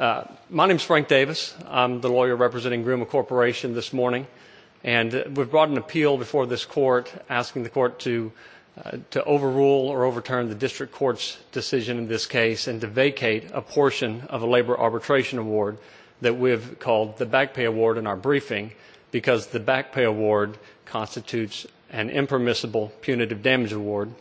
My name is Frank Davis. I'm the lawyer representing Gruma Corporation this morning. And we've brought an appeal before this court asking the court to overrule or overturn the district court's decision in this case and to vacate a portion of a labor arbitration award that we've called the Back Pay Award in our briefing because the Back Pay Award constitutes an impermissible punitive damage award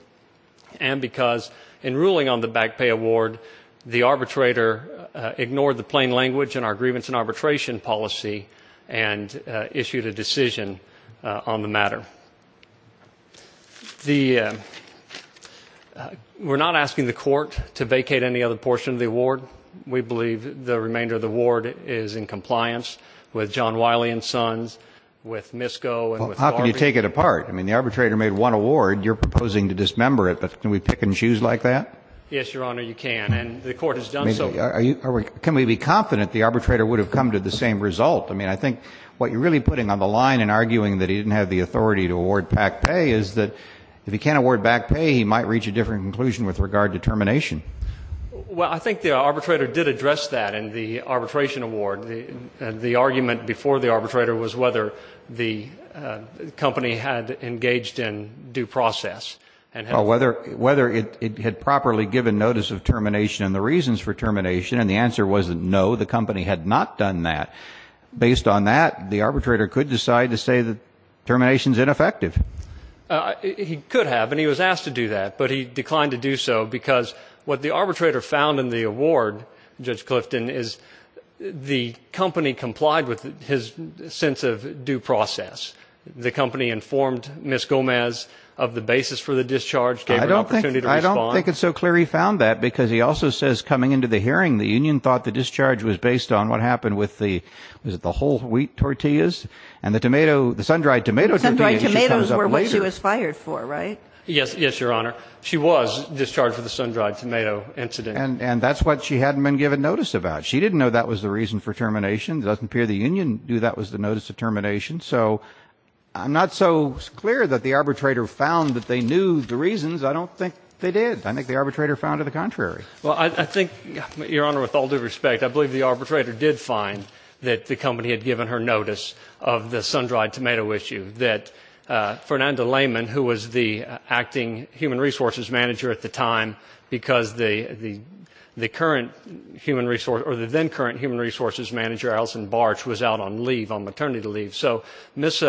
and because in ruling on the Back Pay Award, the arbitrator ignored the plain language in our grievance and arbitration policy and issued a decision on the matter. We're not asking the court to vacate any other portion of the award. We believe the remainder of the award is in compliance with John Wiley & Sons, with MISCO, and with Garvey. Can we take it apart? I mean, the arbitrator made one award. You're proposing to dismember it. But can we pick and choose like that? Yes, Your Honor, you can. And the court has done so. Can we be confident the arbitrator would have come to the same result? I mean, I think what you're really putting on the line in arguing that he didn't have the authority to award back pay is that if he can't award back pay, he might reach a different conclusion with regard to termination. Well, I think the arbitrator did address that in the arbitration award. The argument before the arbitrator was whether the company had engaged in due process. Well, whether it had properly given notice of termination and the reasons for termination, and the answer was no, the company had not done that. Based on that, the arbitrator could decide to say that termination is ineffective. He could have, and he was asked to do that, but he declined to do so because what the arbitrator found in the award, Judge Clifton, is the company complied with his sense of due process. The company informed Ms. Gomez of the basis for the discharge, gave her an opportunity to respond. I don't think it's so clear he found that because he also says coming into the hearing, the union thought the discharge was based on what happened with the whole wheat tortillas and the sun-dried tomato tortillas. Sun-dried tomatoes were what she was fired for, right? Yes, yes, Your Honor. She was discharged with a sun-dried tomato incident. And that's what she hadn't been given notice about. She didn't know that was the reason for termination. It doesn't appear the union knew that was the notice of termination. So I'm not so clear that the arbitrator found that they knew the reasons. I don't think they did. I think the arbitrator found it the contrary. Well, I think, Your Honor, with all due respect, I believe the arbitrator did find that the company had given her notice of the sun-dried tomato issue, that Fernanda Lehman, who was the acting human resources manager at the time, because the then-current human resources manager, Alison Barch, was out on maternity leave. So Ms.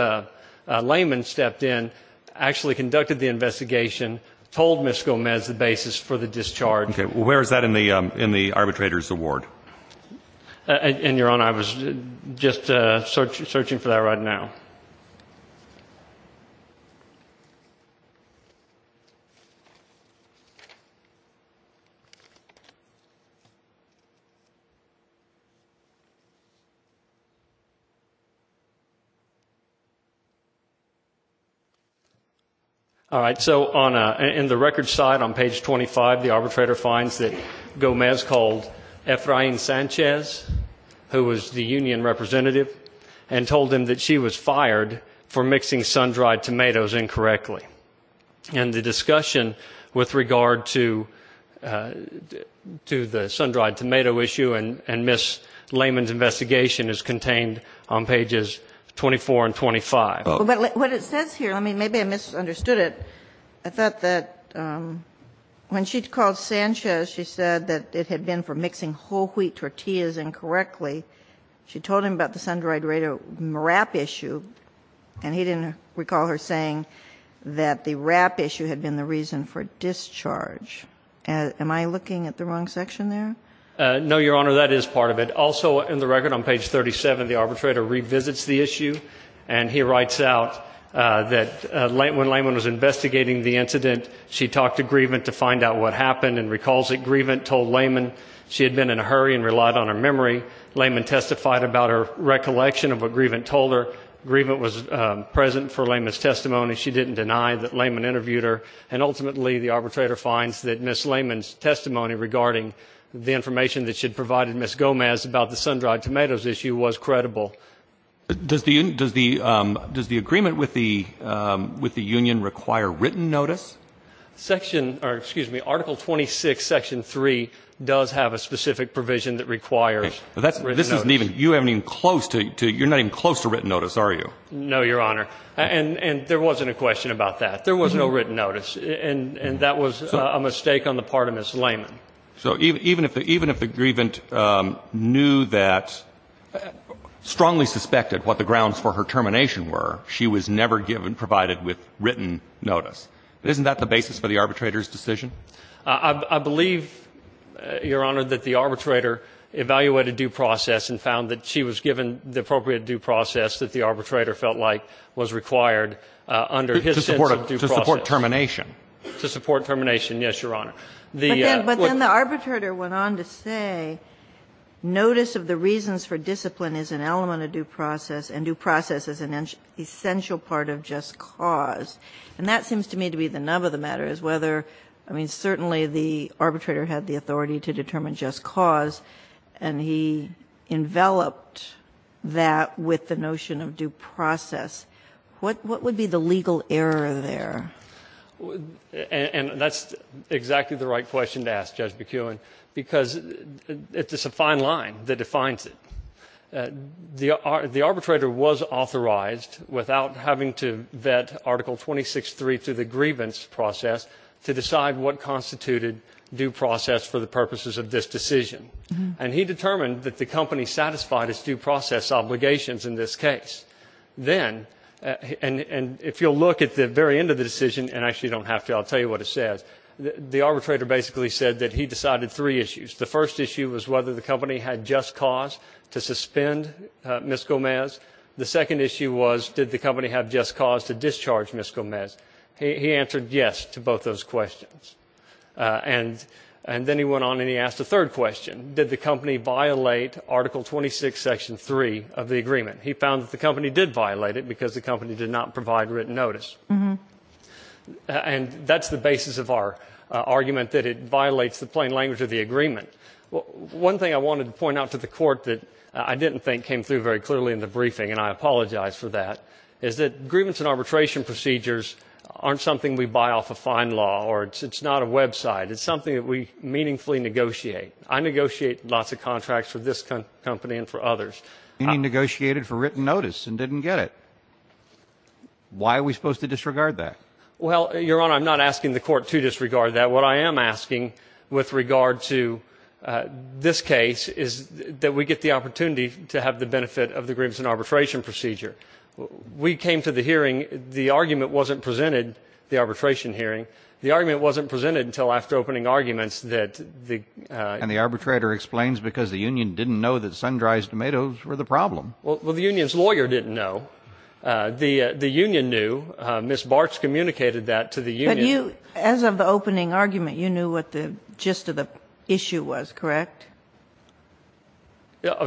Lehman stepped in, actually conducted the investigation, told Ms. Gomez the basis for the discharge. Okay. Well, where is that in the arbitrator's award? And, Your Honor, I was just searching for that right now. All right. So in the record side on page 25, the arbitrator finds that Gomez called Efrain Sanchez, who was the union representative, and told him that she was fired for mixing sun-dried tomatoes incorrectly. And the discussion with regard to the sun-dried tomato issue and Ms. Lehman's investigation is contained on pages 24 and 25. But what it says here, I mean, maybe I misunderstood it. I thought that when she called Sanchez, she said that it had been for mixing whole wheat tortillas incorrectly. She told him about the sun-dried tomato wrap issue, and he didn't recall her saying that the wrap issue had been the reason for discharge. Am I looking at the wrong section there? No, Your Honor, that is part of it. Also in the record on page 37, the arbitrator revisits the issue, and he writes out that when Lehman was investigating the incident, she talked to Grievant to find out what happened and recalls that Grievant told Lehman she had been in a hurry and relied on her memory. Lehman testified about her recollection of what Grievant told her. Grievant was present for Lehman's testimony. She didn't deny that Lehman interviewed her, and ultimately the arbitrator finds that Ms. Lehman's testimony regarding the information that she had provided Ms. Gomez about the sun-dried tomatoes issue was credible. Does the agreement with the union require written notice? Section or, excuse me, Article 26, Section 3 does have a specific provision that requires written notice. You're not even close to written notice, are you? No, Your Honor, and there wasn't a question about that. There was no written notice, and that was a mistake on the part of Ms. Lehman. So even if the Grievant knew that, strongly suspected what the grounds for her termination were, she was never provided with written notice. Isn't that the basis for the arbitrator's decision? I believe, Your Honor, that the arbitrator evaluated due process and found that she was given the appropriate due process that the arbitrator felt like was required under his sense of due process. To support termination. To support termination, yes, Your Honor. But then the arbitrator went on to say notice of the reasons for discipline is an element of due process, and due process is an essential part of just cause. And that seems to me to be the nub of the matter, is whether, I mean, certainly the arbitrator had the authority to determine just cause, and he enveloped that with the notion of due process. What would be the legal error there? And that's exactly the right question to ask, Judge McKeown, because it's a fine line that defines it. The arbitrator was authorized, without having to vet Article 26.3 through the grievance process, to decide what constituted due process for the purposes of this decision. And he determined that the company satisfied its due process obligations in this case. Then, and if you'll look at the very end of the decision, and actually you don't have to, I'll tell you what it says. The arbitrator basically said that he decided three issues. The first issue was whether the company had just cause to suspend Ms. Gomez. The second issue was did the company have just cause to discharge Ms. Gomez. He answered yes to both those questions. And then he went on and he asked a third question. Did the company violate Article 26, Section 3 of the agreement? He found that the company did violate it because the company did not provide written notice. And that's the basis of our argument, that it violates the plain language of the agreement. One thing I wanted to point out to the court that I didn't think came through very clearly in the briefing, and I apologize for that, is that grievance and arbitration procedures aren't something we buy off a fine law, or it's not a website. It's something that we meaningfully negotiate. I negotiate lots of contracts for this company and for others. You negotiated for written notice and didn't get it. Why are we supposed to disregard that? Well, Your Honor, I'm not asking the court to disregard that. What I am asking with regard to this case is that we get the opportunity to have the benefit of the grievance and arbitration procedure. We came to the hearing. The argument wasn't presented, the arbitration hearing. The argument wasn't presented until after opening arguments that the ---- And the arbitrator explains because the union didn't know that sun-dried tomatoes were the problem. Well, the union's lawyer didn't know. The union knew. Ms. Bartsch communicated that to the union. But you, as of the opening argument, you knew what the gist of the issue was, correct?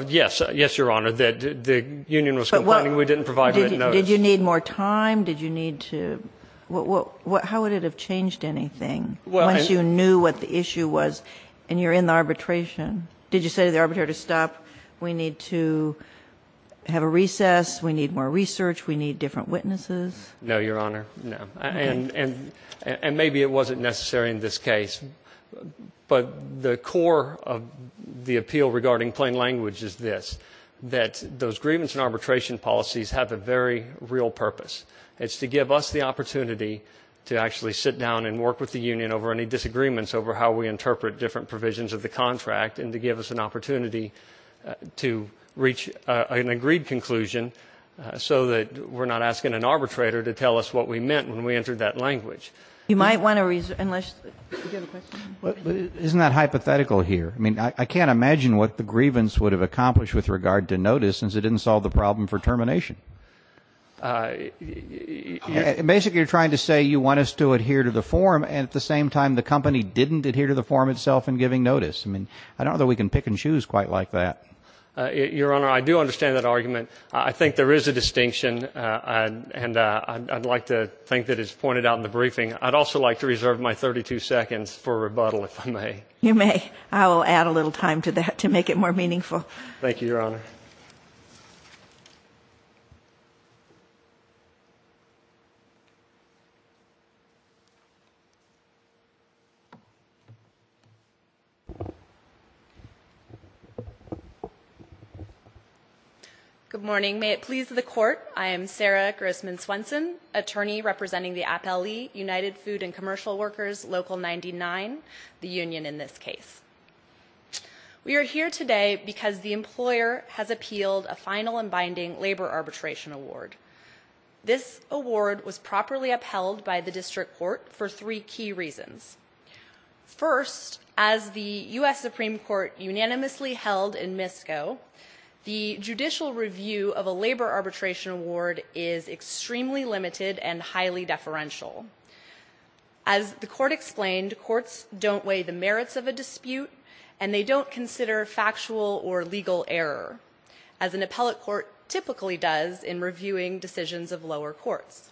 Yes, Your Honor. The union was complaining we didn't provide written notice. Did you need more time? Did you need to ---- How would it have changed anything once you knew what the issue was and you're in the arbitration? Did you say to the arbitrator, stop, we need to have a recess, we need more research, we need different witnesses? No, Your Honor, no. And maybe it wasn't necessary in this case. But the core of the appeal regarding plain language is this, that those grievance and arbitration policies have a very real purpose. It's to give us the opportunity to actually sit down and work with the union over any disagreements over how we interpret different provisions of the contract and to give us an opportunity to reach an agreed conclusion so that we're not asking an arbitrator to tell us what we meant when we entered that language. You might want to ---- Do you have a question? Isn't that hypothetical here? I mean, I can't imagine what the grievance would have accomplished with regard to notice since it didn't solve the problem for termination. Basically, you're trying to say you want us to adhere to the form and at the same time the company didn't adhere to the form itself in giving notice. I mean, I don't know that we can pick and choose quite like that. Your Honor, I do understand that argument. I think there is a distinction, and I'd like to think that it's pointed out in the briefing. I'd also like to reserve my 32 seconds for rebuttal, if I may. You may. I will add a little time to that to make it more meaningful. Thank you, Your Honor. Good morning. May it please the Court, I am Sarah Grossman Swenson, attorney representing the Appellee United Food and Commercial Workers, Local 99, the union in this case. We are here today because the employer has appealed a final and binding labor arbitration award. This award was properly upheld by the district court for three key reasons. First, as the U.S. Supreme Court unanimously held in Misko, the judicial review of a labor arbitration award is extremely limited and highly deferential. As the Court explained, courts don't weigh the merits of a dispute, and they don't consider factual or legal error, as an appellate court typically does in reviewing decisions of lower courts.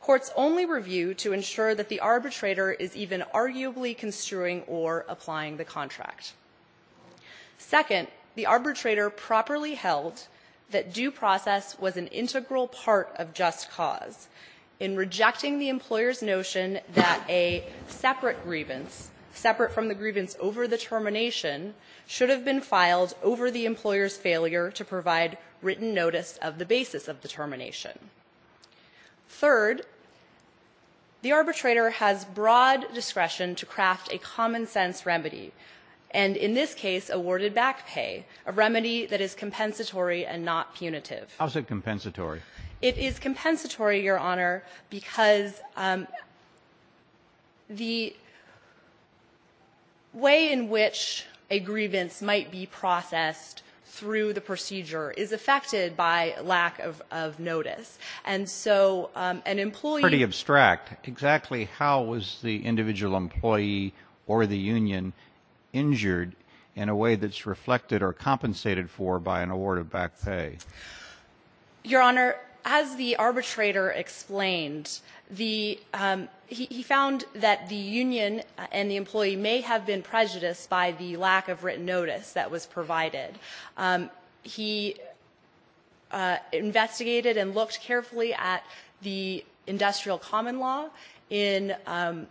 Courts only review to ensure that the arbitrator is even arguably construing or applying the contract. Second, the arbitrator properly held that due process was an integral part of just cause in rejecting the employer's notion that a separate grievance, separate from the grievance over the termination, should have been filed over the employer's failure to provide written notice of the basis of the termination. Third, the arbitrator has broad discretion to craft a common-sense remedy, and in this case, awarded back pay, a remedy that is compensatory and not punitive. How's it compensatory? It is compensatory, Your Honor, because the way in which a grievance might be processed through the procedure is affected by lack of notice. And so an employee ---- It's pretty abstract. Exactly how was the individual employee or the union injured in a way that's reflected or compensated for by an award of back pay? Your Honor, as the arbitrator explained, the ---- he found that the union and the employee may have been prejudiced by the lack of written notice that was provided. He investigated and looked carefully at the industrial common law in ----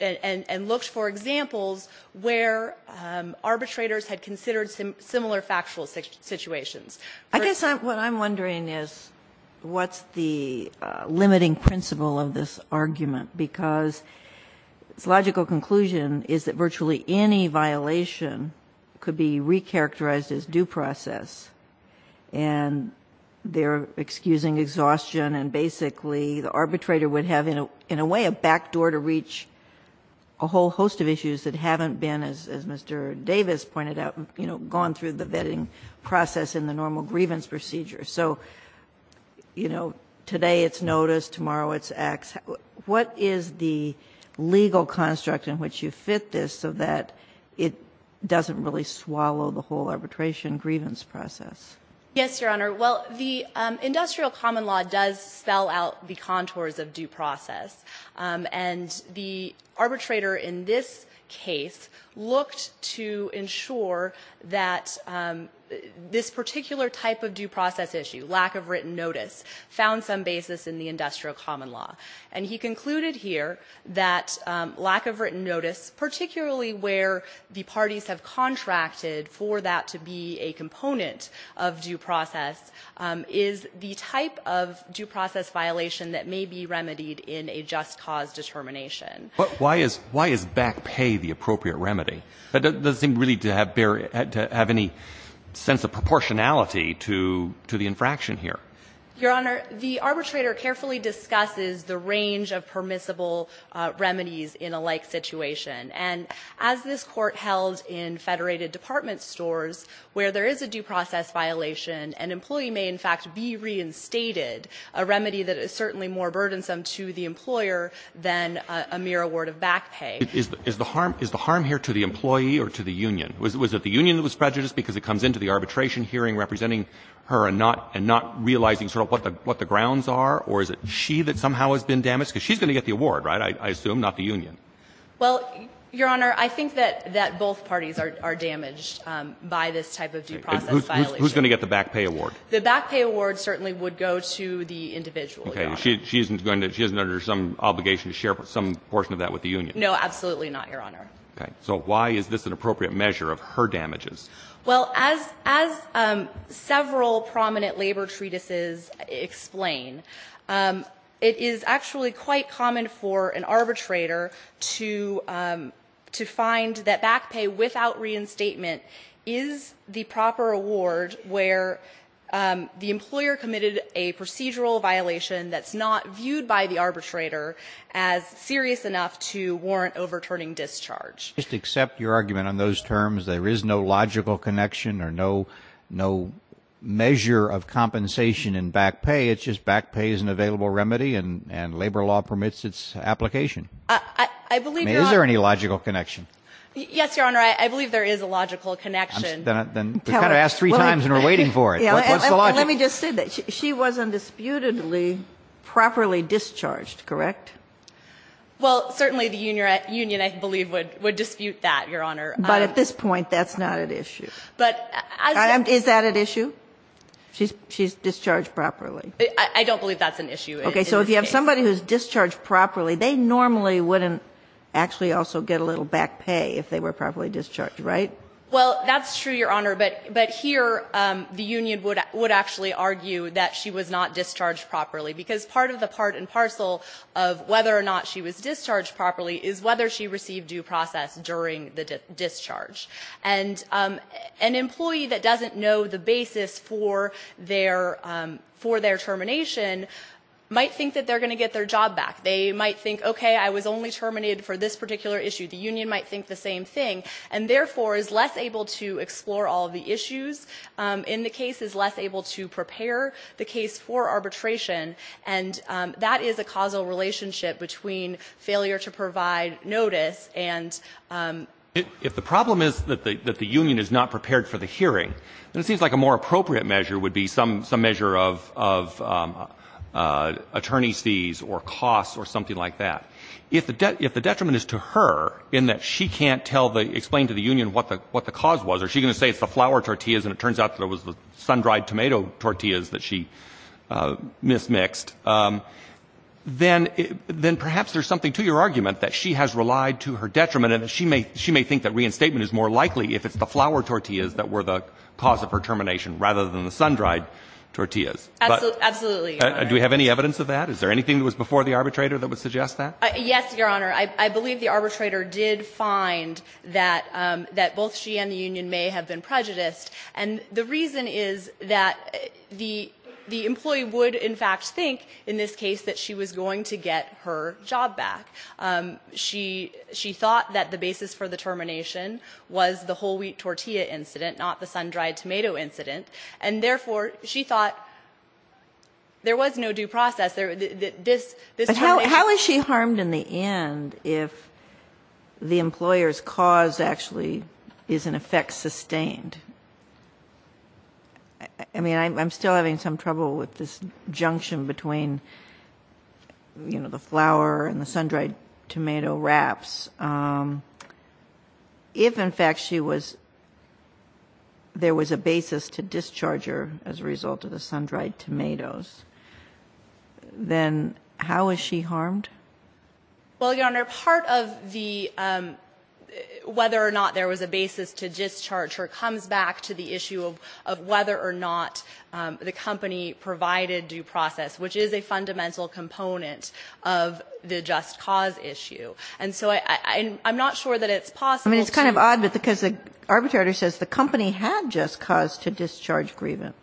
and looked for examples where arbitrators had considered similar factual situations. I guess what I'm wondering is what's the limiting principle of this argument? Because its logical conclusion is that virtually any violation could be recharacterized as due process, and they're excusing exhaustion and basically the arbitrator would have in a way a backdoor to reach a whole host of issues that haven't been, as Mr. Davis pointed out, you know, gone through the vetting process in the normal grievance procedure. So, you know, today it's notice, tomorrow it's acts. What is the legal construct in which you fit this so that it doesn't really swallow the whole arbitration grievance process? Yes, Your Honor. Well, the industrial common law does spell out the contours of due process. And the arbitrator in this case looked to ensure that this particular type of due process issue, lack of written notice, found some basis in the industrial common law. And he concluded here that lack of written notice, particularly where the parties have contracted for that to be a component of due process, is the type of due process violation that may be remedied in a just cause determination. But why is back pay the appropriate remedy? That doesn't seem really to have any sense of proportionality to the infraction here. Your Honor, the arbitrator carefully discusses the range of permissible remedies in a like situation. And as this Court held in Federated Department stores, where there is a due process violation, an employee may in fact be reinstated, a remedy that is certainly more burdensome to the employer than a mere award of back pay. Is the harm here to the employee or to the union? Was it the union that was prejudiced because it comes into the arbitration hearing representing her and not realizing sort of what the grounds are? Or is it she that somehow has been damaged? Because she's going to get the award, right, I assume, not the union. Well, Your Honor, I think that both parties are damaged by this type of due process violation. Who's going to get the back pay award? The back pay award certainly would go to the individual, Your Honor. Okay. She isn't going to go to some obligation to share some portion of that with the union. No, absolutely not, Your Honor. Okay. So why is this an appropriate measure of her damages? Well, as several prominent labor treatises explain, it is actually quite common for an arbitrator to find that back pay without reinstatement is the proper award where the employer committed a procedural violation that's not viewed by the arbitrator as serious enough to warrant overturning discharge. I just accept your argument on those terms. There is no logical connection or no measure of compensation in back pay. It's just back pay is an available remedy and labor law permits its application. I believe, Your Honor. I mean, is there any logical connection? Yes, Your Honor. I believe there is a logical connection. Then kind of ask three times and we're waiting for it. What's the logic? Let me just say that. She was undisputedly properly discharged, correct? Well, certainly the union, I believe, would dispute that, Your Honor. But at this point, that's not at issue. Is that at issue? She's discharged properly. I don't believe that's an issue. Okay. So if you have somebody who's discharged properly, they normally wouldn't actually also get a little back pay if they were properly discharged, right? Well, that's true, Your Honor, but here the union would actually argue that she was not discharged properly, because part of the part and parcel of whether or not she was discharged properly is whether she received due process during the discharge. And an employee that doesn't know the basis for their termination might think that they're going to get their job back. They might think, okay, I was only terminated for this particular issue. The union might think the same thing. And therefore is less able to explore all of the issues in the case, is less able to prepare the case for arbitration. And that is a causal relationship between failure to provide notice and ---- If the problem is that the union is not prepared for the hearing, then it seems like a more appropriate measure would be some measure of attorney fees or costs or something like that. If the detriment is to her in that she can't tell the ---- explain to the union what the cause was, or she's going to say it's the flour tortillas and it turns out that it was the sun-dried tomato tortillas that she mismixed, then perhaps there's something to your argument that she has relied to her detriment and that she may think that reinstatement is more likely if it's the flour tortillas that were the cause of her termination rather than the sun-dried tortillas. Absolutely, Your Honor. Do we have any evidence of that? Is there anything that was before the arbitrator that would suggest that? Yes, Your Honor. I believe the arbitrator did find that both she and the union may have been prejudiced. And the reason is that the employee would in fact think in this case that she was going to get her job back. She thought that the basis for the termination was the whole wheat tortilla incident, not the sun-dried tomato incident. And therefore, she thought there was no due process. This termination. But how is she harmed in the end if the employer's cause actually is in effect sustained? I mean, I'm still having some trouble with this junction between, you know, the flour and the sun-dried tomato wraps. If in fact there was a basis to discharge her as a result of the sun-dried tomatoes, then how is she harmed? Well, Your Honor, part of the whether or not there was a basis to discharge her comes back to the issue of whether or not the company provided due process, which is a fundamental component of the just cause issue. And so I'm not sure that it's possible to do that. I mean, it's kind of odd because the arbitrator says the company had just cause to discharge grievant.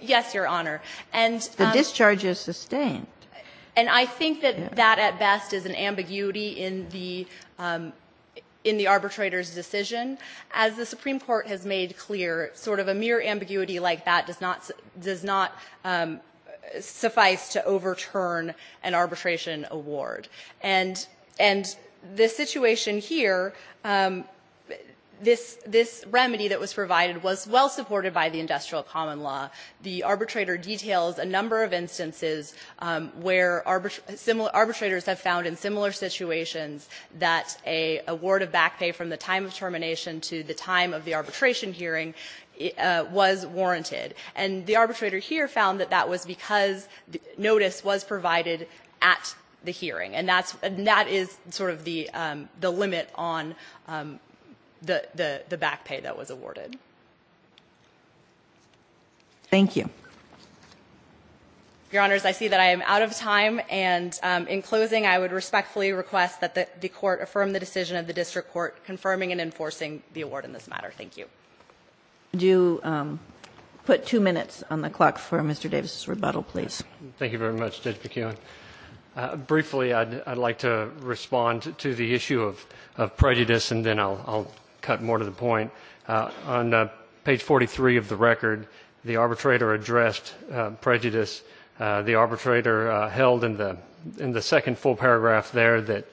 Yes, Your Honor. And the discharge is sustained. And I think that that at best is an ambiguity in the arbitrator's decision. As the Supreme Court has made clear, sort of a mere ambiguity like that does not suffice to overturn an arbitration award. And this situation here, this remedy that was provided was well supported by the industrial common law. The arbitrator details a number of instances where arbitrators have found in similar situations that a word of back pay from the time of termination to the time of the arbitration hearing was warranted. And the arbitrator here found that that was because notice was provided at the hearing. And that is sort of the limit on the back pay that was awarded. Thank you. Your Honors, I see that I am out of time. And in closing, I would respectfully request that the Court affirm the decision of the district court confirming and enforcing the award in this matter. Thank you. I do put two minutes on the clock for Mr. Davis's rebuttal, please. Thank you very much, Judge McKeown. Briefly, I would like to respond to the issue of prejudice and then I will cut more to the point. On page 43 of the record, the arbitrator addressed prejudice. The arbitrator held in the second full paragraph there that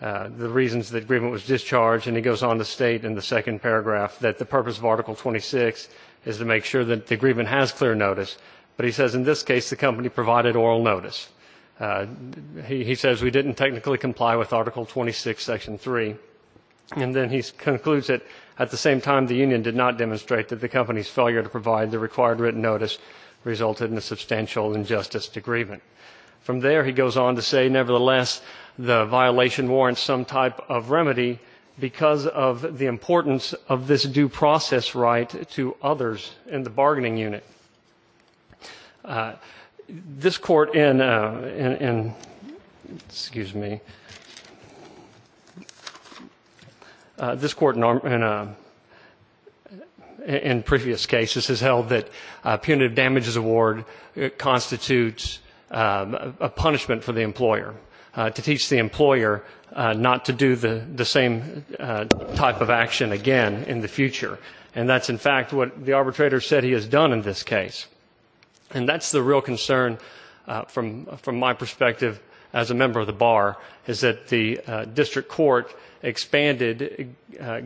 the reasons the agreement was discharged, and he goes on to state in the second paragraph that the purpose of Article 26 is to make sure that the agreement has clear notice. But he says in this case the company provided oral notice. He says we didn't technically comply with Article 26, Section 3. And then he concludes that at the same time the union did not demonstrate that the company's failure to provide the required written notice resulted in a substantial injustice to grievance. From there he goes on to say, nevertheless, the violation warrants some type of remedy because of the importance of this due process right to others in the future. This Court in previous cases has held that punitive damages award constitutes a punishment for the employer, to teach the employer not to do the same type of action again in the future. And that's, in fact, what the arbitrator said he has done in this case. And that's the real concern from my perspective as a member of the Bar, is that the district court expanded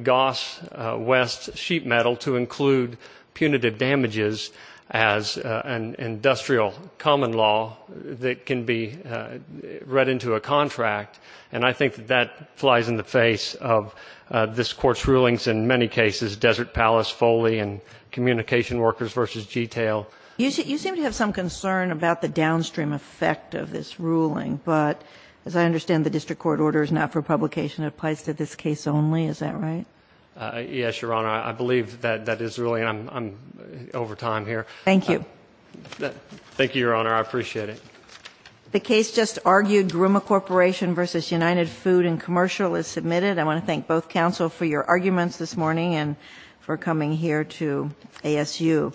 Goss West sheet metal to include punitive damages as an industrial common law that can be read into a contract. And I think that that flies in the face of this Court's rulings in many cases, Desert Palace, Foley, and Communication Workers v. G-Tail. You seem to have some concern about the downstream effect of this ruling, but as I understand the district court order is not for publication. It applies to this case only. Is that right? Yes, Your Honor. I believe that that is really, and I'm over time here. Thank you. Thank you, Your Honor. I appreciate it. The case just argued, Gruma Corporation v. United Food and Commercial is submitted. I want to thank both counsel for your arguments this morning and for coming here to ASU.